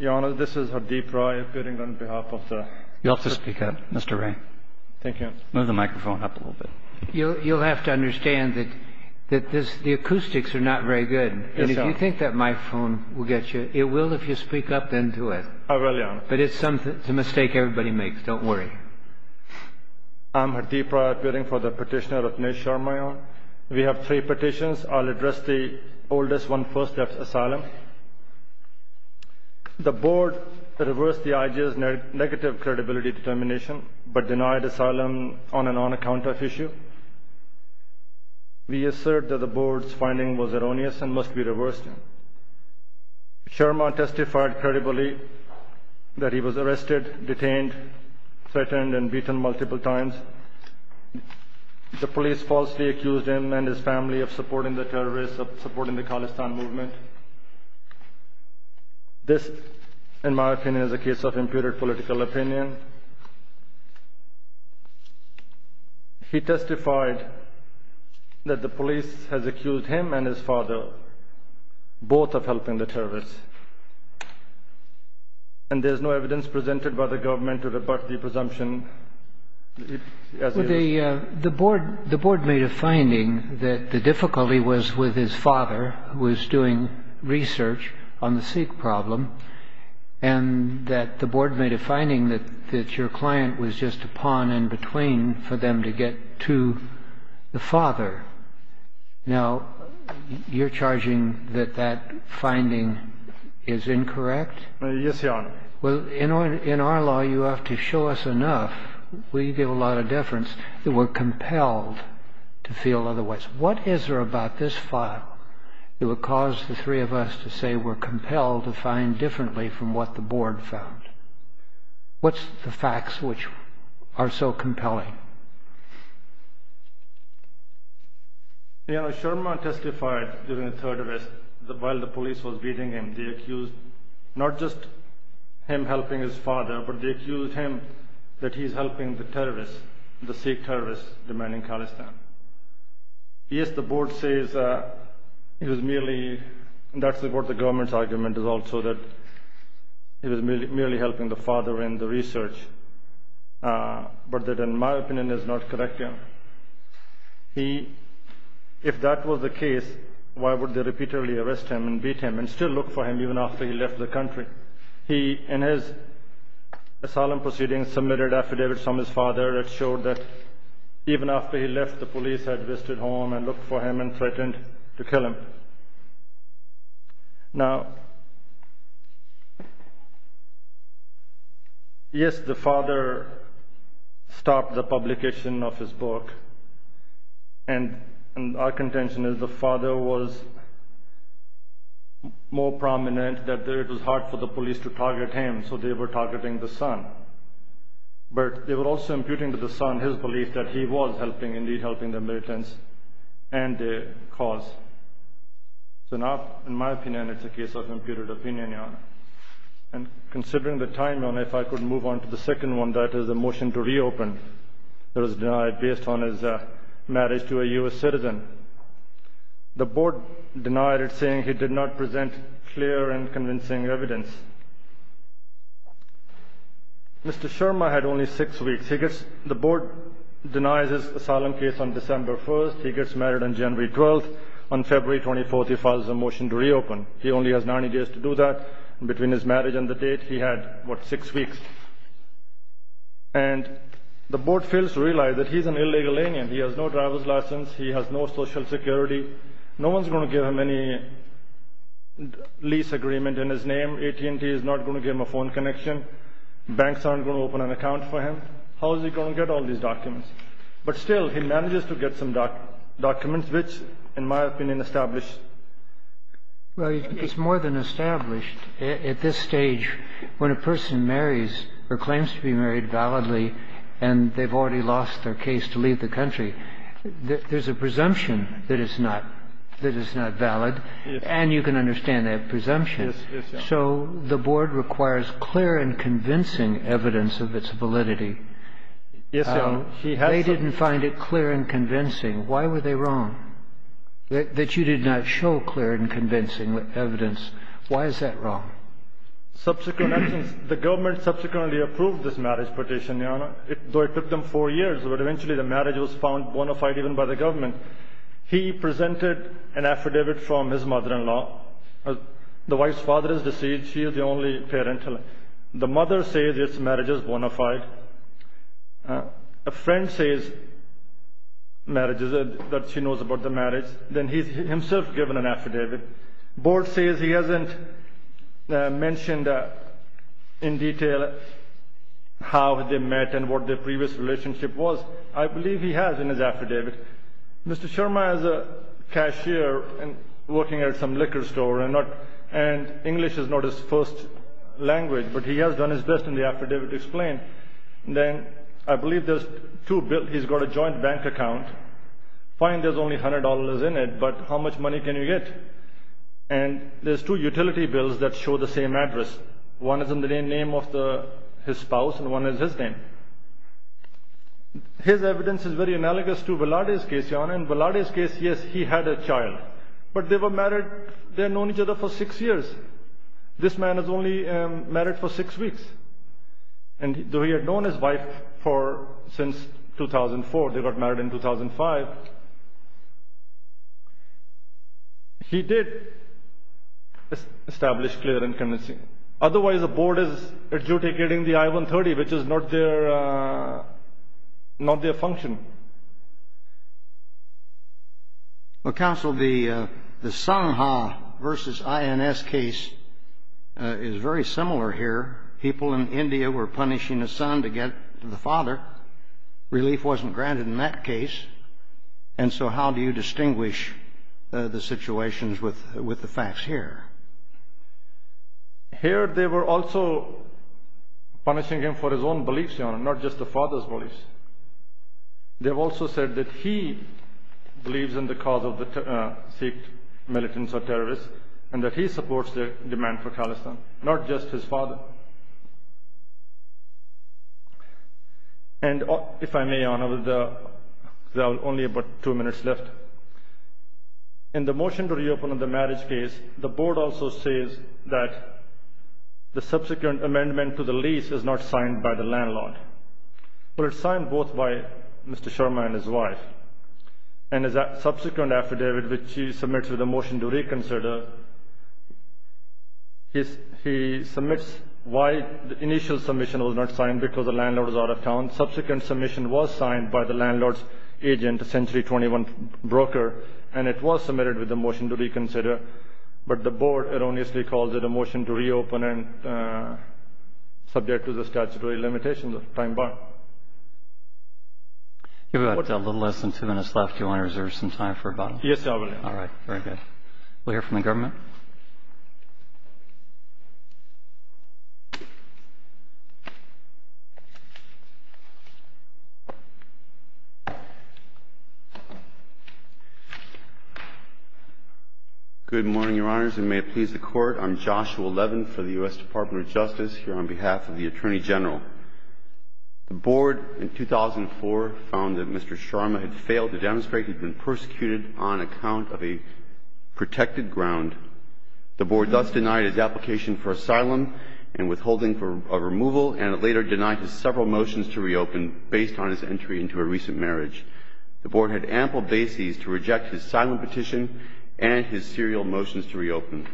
Your Honour, this is Hardeep Roy appearing on behalf of the... You'll have to speak up, Mr. Ray. Thank you, Your Honour. Move the microphone up a little bit. You'll have to understand that the acoustics are not very good. Yes, Your Honour. And if you think that microphone will get you, it will if you speak up into it. I will, Your Honour. But it's a mistake everybody makes. Don't worry. I'm Hardeep Roy, appearing for the petitioner of Ms. Sharma, Your Honour. We have three petitions. I'll address the oldest one, First Left Asylum. The board reversed the IG's negative credibility determination, but denied asylum on an on-account-of issue. We assert that the board's finding was erroneous and must be reversed. Sharma testified credibly that he was arrested, detained, threatened and beaten multiple times. The police falsely accused him and his family of supporting the terrorists, of supporting the Khalistan movement. This, in my opinion, is a case of imputed political opinion. He testified that the police has accused him and his father, both of helping the terrorists. And there's no evidence presented by the government to rebut the presumption. The board made a finding that the difficulty was with his father, who was doing research on the Sikh problem, and that the board made a finding that your client was just a pawn in between for them to get to the father. Now, you're charging that that finding is incorrect? Yes, Your Honour. Well, in our law, you have to show us enough, we give a lot of deference, that we're compelled to feel otherwise. What is there about this file that would cause the three of us to say we're compelled to find differently from what the board found? What's the facts which are so compelling? Your Honour, Sharma testified during the terrorist, while the police was beating him, they accused not just him helping his father, but they accused him that he's helping the terrorists, the Sikh terrorists, demanding Khalistan. Yes, the board says it was merely, and that's what the government's argument is also, that he was merely helping the father in the research, but that, in my opinion, is not correct, Your Honour. If that was the case, why would they repeatedly arrest him and beat him and still look for him even after he left the country? He, in his asylum proceedings, submitted affidavits from his father that showed that even after he left, the police had visited home and looked for him and threatened to kill him. Now, yes, the father stopped the publication of his book, and our contention is the father was more prominent, that it was hard for the police to target him, so they were targeting the son. But they were also imputing to the son his belief that he was helping, indeed helping the militants and their cause. So now, in my opinion, it's a case of imputed opinion, Your Honour. And considering the time, Your Honour, if I could move on to the second one, that is the motion to reopen that was denied based on his marriage to a US citizen. The board denied it, saying he did not present clear and convincing evidence. Mr. Sharma had only six weeks. The board denies his asylum case on December 1st. He gets married on January 12th. On February 24th, he files a motion to reopen. He only has 90 days to do that. Between his marriage and the date, he had, what, six weeks. And the board fails to realize that he's an illegal alien. He has no driver's license. He has no social security. No one's going to give him any lease agreement in his name. AT&T is not going to give him a phone connection. Banks aren't going to open an account for him. How is he going to get all these documents? But still, he manages to get some documents, which, in my opinion, establish... Well, it's more than established. At this stage, when a person marries or claims to be married validly, and they've already lost their case to leave the country, there's a presumption that it's not valid. And you can understand that presumption. So the board requires clear and convincing evidence of its validity. They didn't find it clear and convincing. Why were they wrong, that you did not show clear and convincing evidence? Why is that wrong? Subsequent evidence. The government subsequently approved this marriage petition, Your Honor. Though it took them four years, but eventually the marriage was found bona fide even by the government. He presented an affidavit from his mother-in-law. The wife's father is deceased. She is the only parent. The mother says this marriage is bona fide. A friend says that she knows about the marriage. Then he's himself given an affidavit. The board says he hasn't mentioned in detail how they met and what their previous relationship was. I believe he has in his affidavit. Mr. Sharma is a cashier working at some liquor store, and English is not his first language, but he has done his best in the affidavit to explain. Then, I believe there's two bills. He's got a joint bank account. Fine, there's only $100 in it, but how much money can you get? And there's two utility bills that show the same address. One is in the name of his spouse, and one is his name. His evidence is very analogous to Velarde's case, Your Honor. In Velarde's case, yes, he had a child. But they were married. They had known each other for six years. This man is only married for six weeks. Though he had known his wife since 2004, they got married in 2005. He did establish clear and convincing. Otherwise, the board is adjudicating the I-130, which is not their function. Counsel, the Sangha v. INS case is very similar here. People in India were punishing a son to get to the father. Relief wasn't granted in that case. And so, how do you distinguish the situations with the facts here? Here, they were also punishing him for his own beliefs, Your Honor, not just the father's beliefs. They also said that he believes in the cause of the Sikh militants or terrorists, and that he supports the demand for Khalistan, not just his father. And, if I may, Your Honor, there are only about two minutes left. In the motion to reopen on the marriage case, the board also says that the subsequent amendment to the lease is not signed by the landlord. But it's signed both by Mr. Sharma and his wife. And as a subsequent affidavit, which he submits with a motion to reconsider, he submits why the initial submission was not signed, because the landlord was out of town. Subsequent submission was signed by the landlord's agent, a Century 21 broker, and it was submitted with a motion to reconsider. But the board erroneously calls it a motion to reopen, and subject to the statutory limitations of time bar. You've got a little less than two minutes left. Do you want to reserve some time for a button? Yes, I will. All right. Very good. We'll hear from the government. Good morning, Your Honors, and may it please the Court. I'm Joshua Levin for the U.S. Department of Justice, here on behalf of the Attorney General. The board, in 2004, found that Mr. Sharma had failed to demonstrate that he had been persecuted on account of a protected ground. The board thus denied his application for asylum and withholding of removal, and it later denied his several motions to reopen based on his entry into a recent marriage. The board had ample bases to reject his asylum petition and his serial motions to reopen.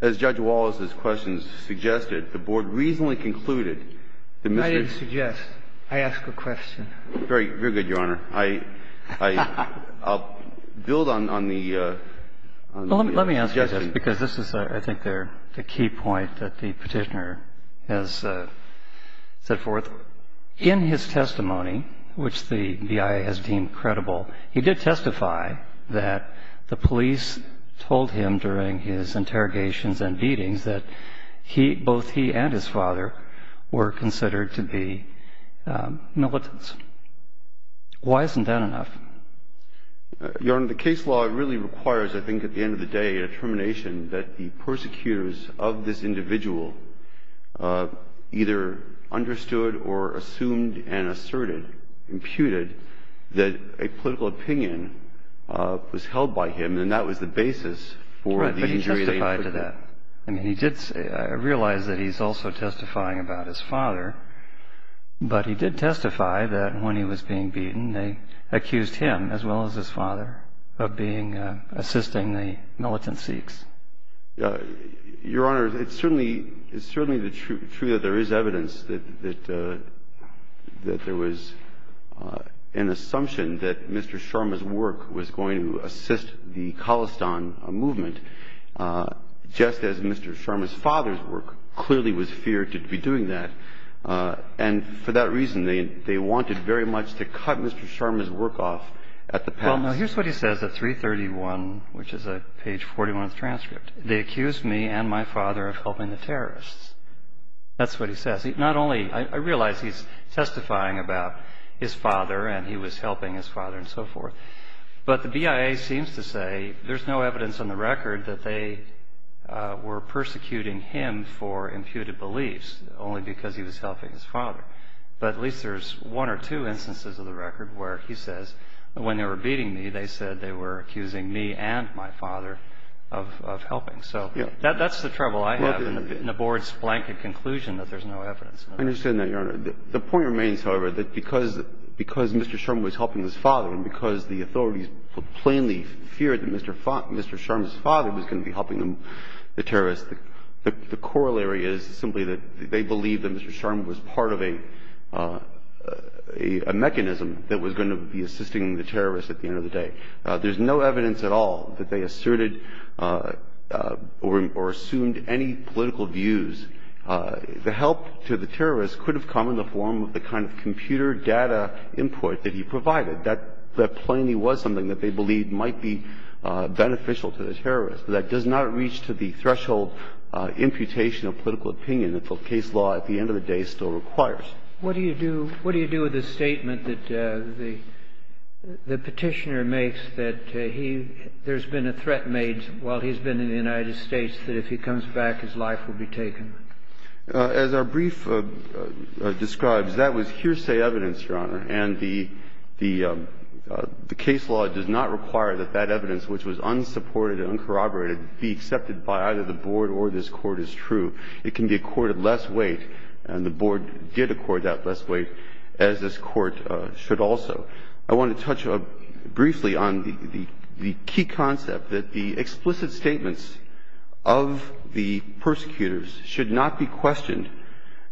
As Judge Wallace's questions suggested, the board reasonably concluded that Mr. I didn't suggest. I asked a question. Very good, Your Honor. I'll build on the suggestion. Let me ask you this, because this is, I think, the key point that the Petitioner has set forth. In his testimony, which the BIA has deemed credible, he did testify that the police told him during his interrogations and beatings that he, both he and his father, were considered to be militants. Why isn't that enough? Your Honor, the case law really requires, I think, at the end of the day, a determination that the persecutors of this individual either understood or assumed and asserted, imputed, that a political opinion was held by him, and that was the basis for the injury they inflicted. Right, but he testified to that. I mean, he did say, I realize that he's also testifying about his father, but he did testify that when he was being beaten, they accused him, as well as his father, of assisting the militant Sikhs. Your Honor, it's certainly true that there is evidence that there was an assumption that Mr. Sharma's work was going to assist the Khalistan movement, just as Mr. Sharma's father's work clearly was feared to be doing that. And for that reason, they wanted very much to cut Mr. Sharma's work off at the past. Well, no, here's what he says at 331, which is page 41 of the transcript. They accused me and my father of helping the terrorists. That's what he says. Not only, I realize he's testifying about his father and he was helping his father and so forth, but the BIA seems to say there's no evidence on the record that they were persecuting him for imputed beliefs, only because he was helping his father. But at least there's one or two instances of the record where he says, when they were beating me, they said they were accusing me and my father of helping. So that's the trouble I have in the Board's blanket conclusion that there's no evidence. I understand that, Your Honor. The point remains, however, that because Mr. Sharma was helping his father and because the authorities plainly feared that Mr. Sharma's father was going to be helping the terrorists, the corollary is simply that they believed that Mr. Sharma was part of a mechanism that was going to be assisting the terrorists at the end of the day. There's no evidence at all that they asserted or assumed any political views. The help to the terrorists could have come in the form of the kind of computer data input that he provided. That plainly was something that they believed might be beneficial to the terrorists. That does not reach to the threshold imputation of political opinion that the case law at the end of the day still requires. What do you do with the statement that the Petitioner makes that there's been a threat made while he's been in the United States that if he comes back, his life will be taken? As our brief describes, that was hearsay evidence, Your Honor. And the case law does not require that that evidence, which was unsupported and uncorroborated, be accepted by either the Board or this Court as true. It can be accorded less weight, and the Board did accord that less weight, as this Court should also. I want to touch briefly on the key concept that the explicit statements of the persecutors should not be questioned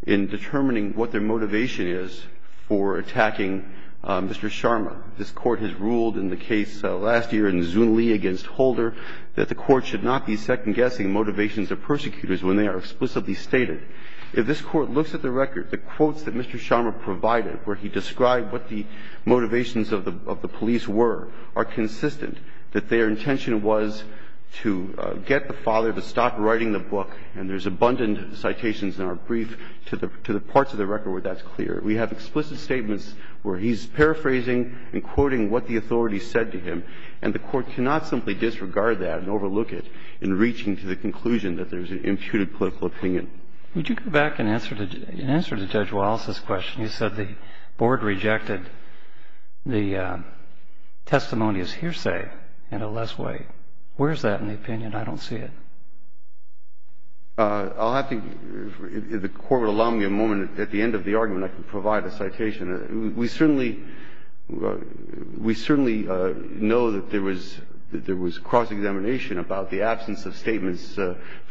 in determining what their motivation is for attacking Mr. Sharma. This Court has ruled in the case last year in Zunle against Holder that the Court should not be second-guessing motivations of persecutors when they are explicitly stated. If this Court looks at the record, the quotes that Mr. Sharma provided, where he described what the motivations of the police were, are consistent, that their intention was to get the father to stop writing the book. And there's abundant citations in our brief to the parts of the record where that's clear. We have explicit statements where he's paraphrasing and quoting what the authorities said to him, and the Court cannot simply disregard that and overlook it in reaching to the conclusion that there's an imputed political opinion. Would you go back and answer to Judge Wallace's question? You said the Board rejected the testimony as hearsay and a less weight. Where is that in the opinion? I don't see it. I'll have to, if the Court would allow me a moment at the end of the argument, I can provide a citation. We certainly know that there was cross-examination about the absence of statements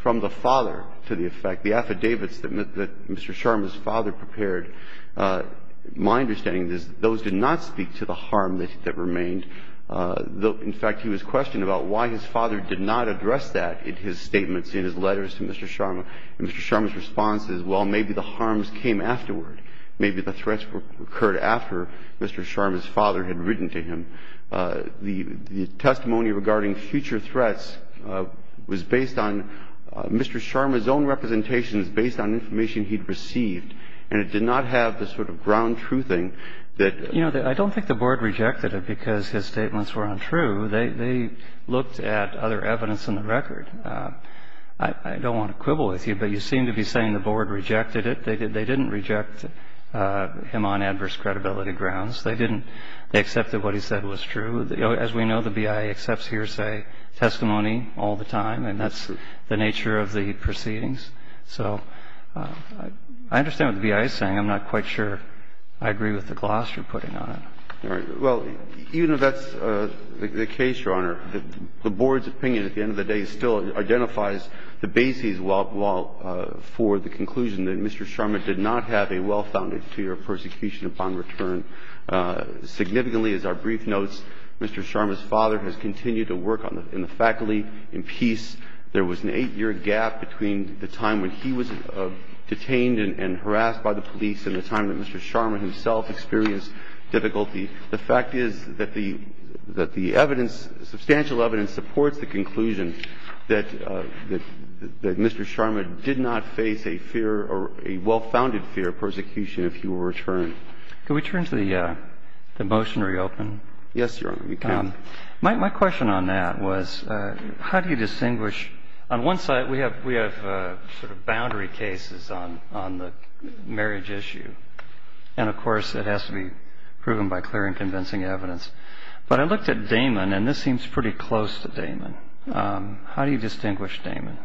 from the father to the effect. The affidavits that Mr. Sharma's father prepared, my understanding is those did not speak to the harm that remained. In fact, he was questioned about why his father did not address that in his statements, in his letters to Mr. Sharma. And Mr. Sharma's response is, well, maybe the harms came afterward. Maybe the threats occurred after Mr. Sharma's father had written to him. The testimony regarding future threats was based on Mr. Sharma's own representations, based on information he'd received, and it did not have the sort of ground-truthing that ---- I don't want to quibble with you, but you seem to be saying the Board rejected it. They didn't reject him on adverse credibility grounds. They didn't ---- they accepted what he said was true. As we know, the BIA accepts hearsay testimony all the time, and that's the nature of the proceedings. So I understand what the BIA is saying. I'm not quite sure I agree with the gloss you're putting on it. All right. Well, even if that's the case, Your Honor, the Board's opinion at the end of the day still identifies the basis for the conclusion that Mr. Sharma did not have a well-founded fear of persecution upon return. Significantly, as our brief notes, Mr. Sharma's father has continued to work in the faculty in peace. There was an eight-year gap between the time when he was detained and harassed by the police and the time that Mr. Sharma himself experienced difficulty. The fact is that the evidence, substantial evidence, supports the conclusion that Mr. Sharma did not face a fear or a well-founded fear of persecution if he were returned. Can we turn to the motion to reopen? Yes, Your Honor, you can. My question on that was how do you distinguish ---- on one side we have sort of boundary cases on the marriage issue, and, of course, it has to be proven by clear and convincing evidence. But I looked at Damon, and this seems pretty close to Damon. How do you distinguish Damon?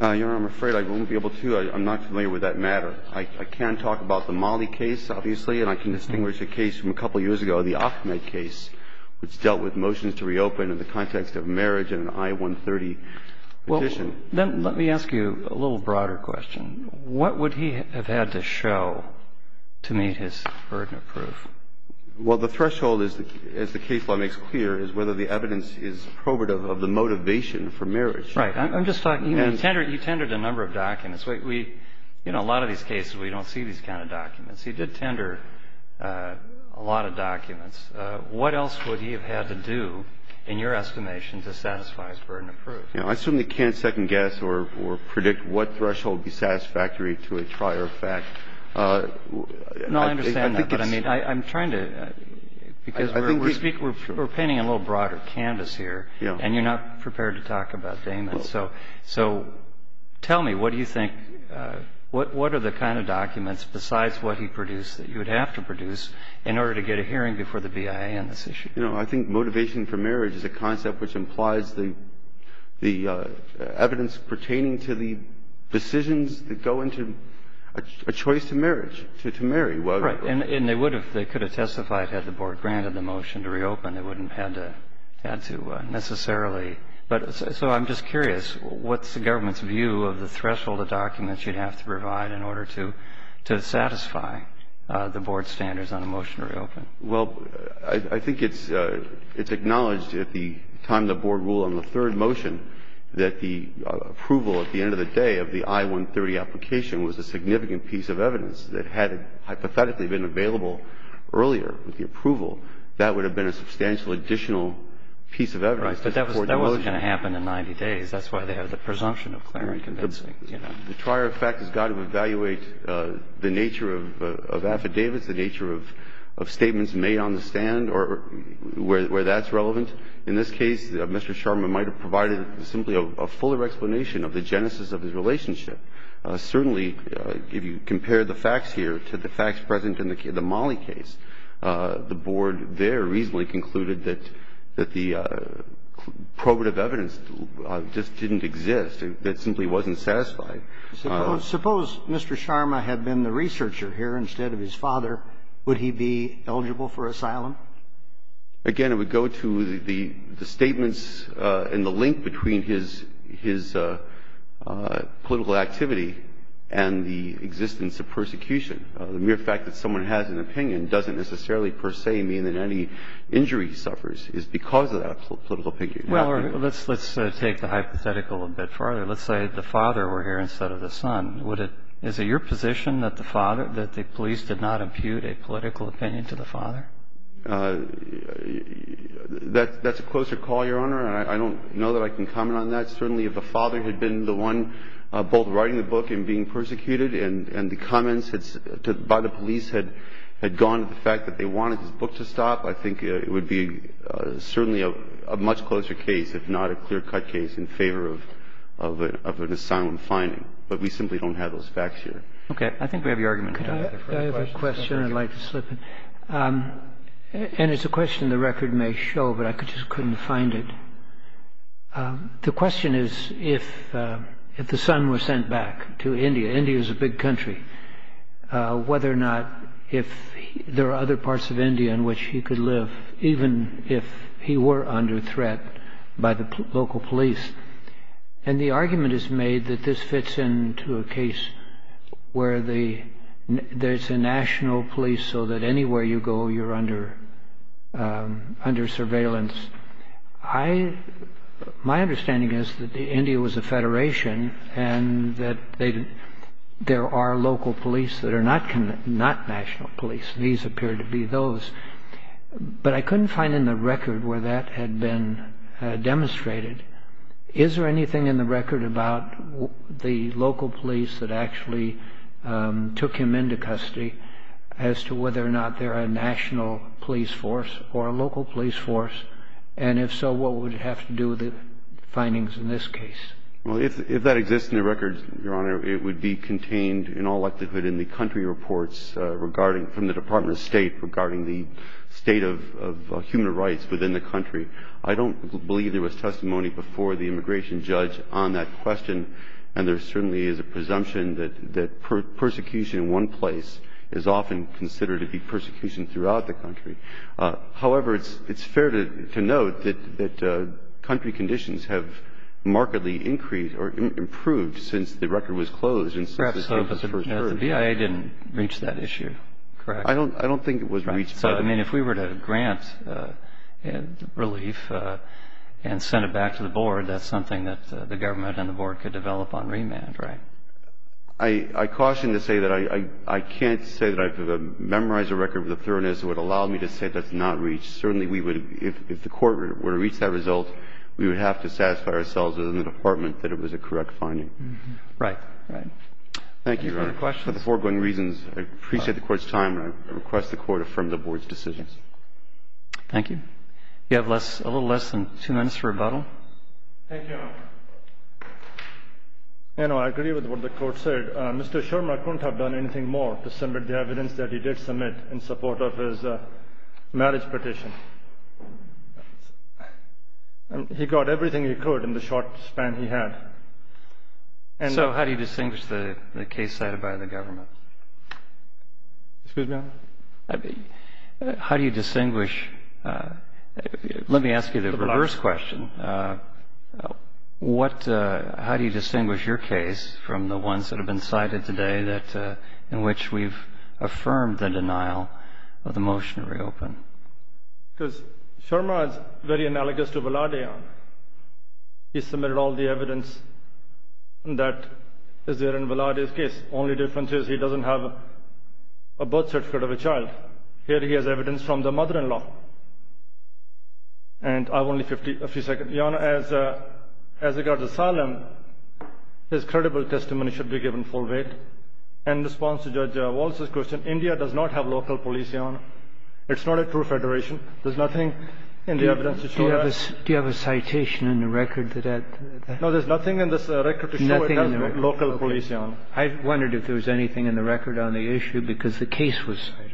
Your Honor, I'm afraid I won't be able to. I'm not familiar with that matter. I can talk about the Mollie case, obviously, and I can distinguish a case from a couple years ago, the Ahmed case, which dealt with motions to reopen in the context of marriage and an I-130 petition. Well, then let me ask you a little broader question. What would he have had to show to meet his burden of proof? Well, the threshold, as the case law makes clear, is whether the evidence is probative of the motivation for marriage. Right. I'm just talking ---- You tendered a number of documents. We ---- you know, a lot of these cases we don't see these kind of documents. He did tender a lot of documents. What else would he have had to do, in your estimation, to satisfy his burden of proof? You know, I certainly can't second-guess or predict what threshold would be satisfactory to a prior fact. No, I understand that. But, I mean, I'm trying to ---- Because we're painting a little broader canvas here. Yeah. And you're not prepared to talk about Damon. So tell me, what do you think ---- what are the kind of documents, besides what he produced, that you would have to produce in order to get a hearing before the BIA on this issue? You know, I think motivation for marriage is a concept which implies the evidence pertaining to the decisions that go into a choice to marriage, to marry. Right. And they would have ---- they could have testified had the Board granted the motion to reopen. They wouldn't have had to necessarily. But so I'm just curious, what's the government's view of the threshold of documents you'd have to provide in order to satisfy the Board's standards on a motion to reopen? Well, I think it's acknowledged at the time the Board ruled on the third motion that the approval at the end of the day of the I-130 application was a significant piece of evidence that had hypothetically been available earlier with the approval. That would have been a substantial additional piece of evidence to support the motion. Right. But that wasn't going to happen in 90 days. That's why they have the presumption of clear and convincing, you know. The prior fact has got to evaluate the nature of affidavits, the nature of statements made on the stand or where that's relevant. In this case, Mr. Sharma might have provided simply a fuller explanation of the genesis of his relationship. Certainly, if you compare the facts here to the facts present in the Mollie case, the Board there reasonably concluded that the probative evidence just didn't exist, that simply wasn't satisfied. Suppose Mr. Sharma had been the researcher here instead of his father. Would he be eligible for asylum? Again, it would go to the statements and the link between his political activity and the existence of persecution. The mere fact that someone has an opinion doesn't necessarily per se mean that any injury he suffers is because of that political opinion. Well, let's take the hypothetical a bit farther. Let's say the father were here instead of the son. Is it your position that the police did not impute a political opinion to the father? That's a closer call, Your Honor. I don't know that I can comment on that. Certainly, if the father had been the one both writing the book and being persecuted and the comments by the police had gone to the fact that they wanted his book to stop, I think it would be certainly a much closer case, if not a clear-cut case, in favor of an asylum finding. But we simply don't have those facts here. Okay. I think we have your argument. Could I have a question? I'd like to slip it. And it's a question the record may show, but I just couldn't find it. The question is if the son were sent back to India. India is a big country. Whether or not if there are other parts of India in which he could live, even if he were under threat by the local police. And the argument is made that this fits into a case where there's a national police so that anywhere you go, you're under surveillance. My understanding is that India was a federation and that there are local police that are not national police. These appear to be those. But I couldn't find in the record where that had been demonstrated. Is there anything in the record about the local police that actually took him into custody as to whether or not they're a national police force or a local police force? And if so, what would it have to do with the findings in this case? Well, if that exists in the records, Your Honor, it would be contained in all likelihood in the country reports regarding from the Department of State regarding the state of human rights within the country. I don't believe there was testimony before the immigration judge on that question. And there certainly is a presumption that persecution in one place is often considered to be persecution throughout the country. However, it's fair to note that country conditions have markedly increased or improved since the record was closed and since this case was first heard. Perhaps the BIA didn't reach that issue, correct? I don't think it was reached. So, I mean, if we were to grant relief and send it back to the board, that's something that the government and the board could develop on remand. Right. I caution to say that I can't say that I've memorized the record with the thoroughness that would allow me to say that's not reached. Certainly, if the court were to reach that result, we would have to satisfy ourselves within the department that it was a correct finding. Right, right. Thank you, Your Honor. Thanks for the questions. For the foregoing reasons, I appreciate the Court's time and I request the Court affirm the Board's decisions. Thank you. You have a little less than two minutes for rebuttal. Thank you, Your Honor. You know, I agree with what the Court said. Mr. Shermer couldn't have done anything more to submit the evidence that he did submit in support of his marriage petition. He got everything he could in the short span he had. So how do you distinguish the case cited by the government? Excuse me, Your Honor? How do you distinguish? Let me ask you the reverse question. How do you distinguish your case from the ones that have been cited today in which we've affirmed the denial of the motion to reopen? Because Shermer is very analogous to Velarde, Your Honor. He submitted all the evidence that is there in Velarde's case. Only difference is he doesn't have a birth certificate of a child. Here he has evidence from the mother-in-law. And I have only a few seconds. Your Honor, as regards asylum, his credible testimony should be given full weight. In response to Judge Walz's question, India does not have local police, Your Honor. It's not a true federation. There's nothing in the evidence to show that. Do you have a citation in the record that had that? I wondered if there was anything in the record on the issue, because the case was cited.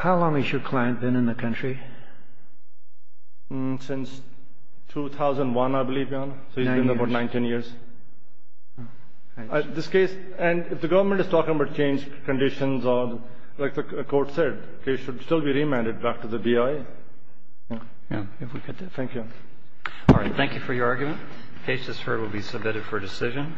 How long has your client been in the country? Since 2001, I believe, Your Honor. Nine years. So he's been there for 19 years. This case, and if the government is talking about changed conditions, like the Court said, the case should still be remanded back to the BIA. Thank you. All right. Thank you for your argument. The case has been submitted for decision.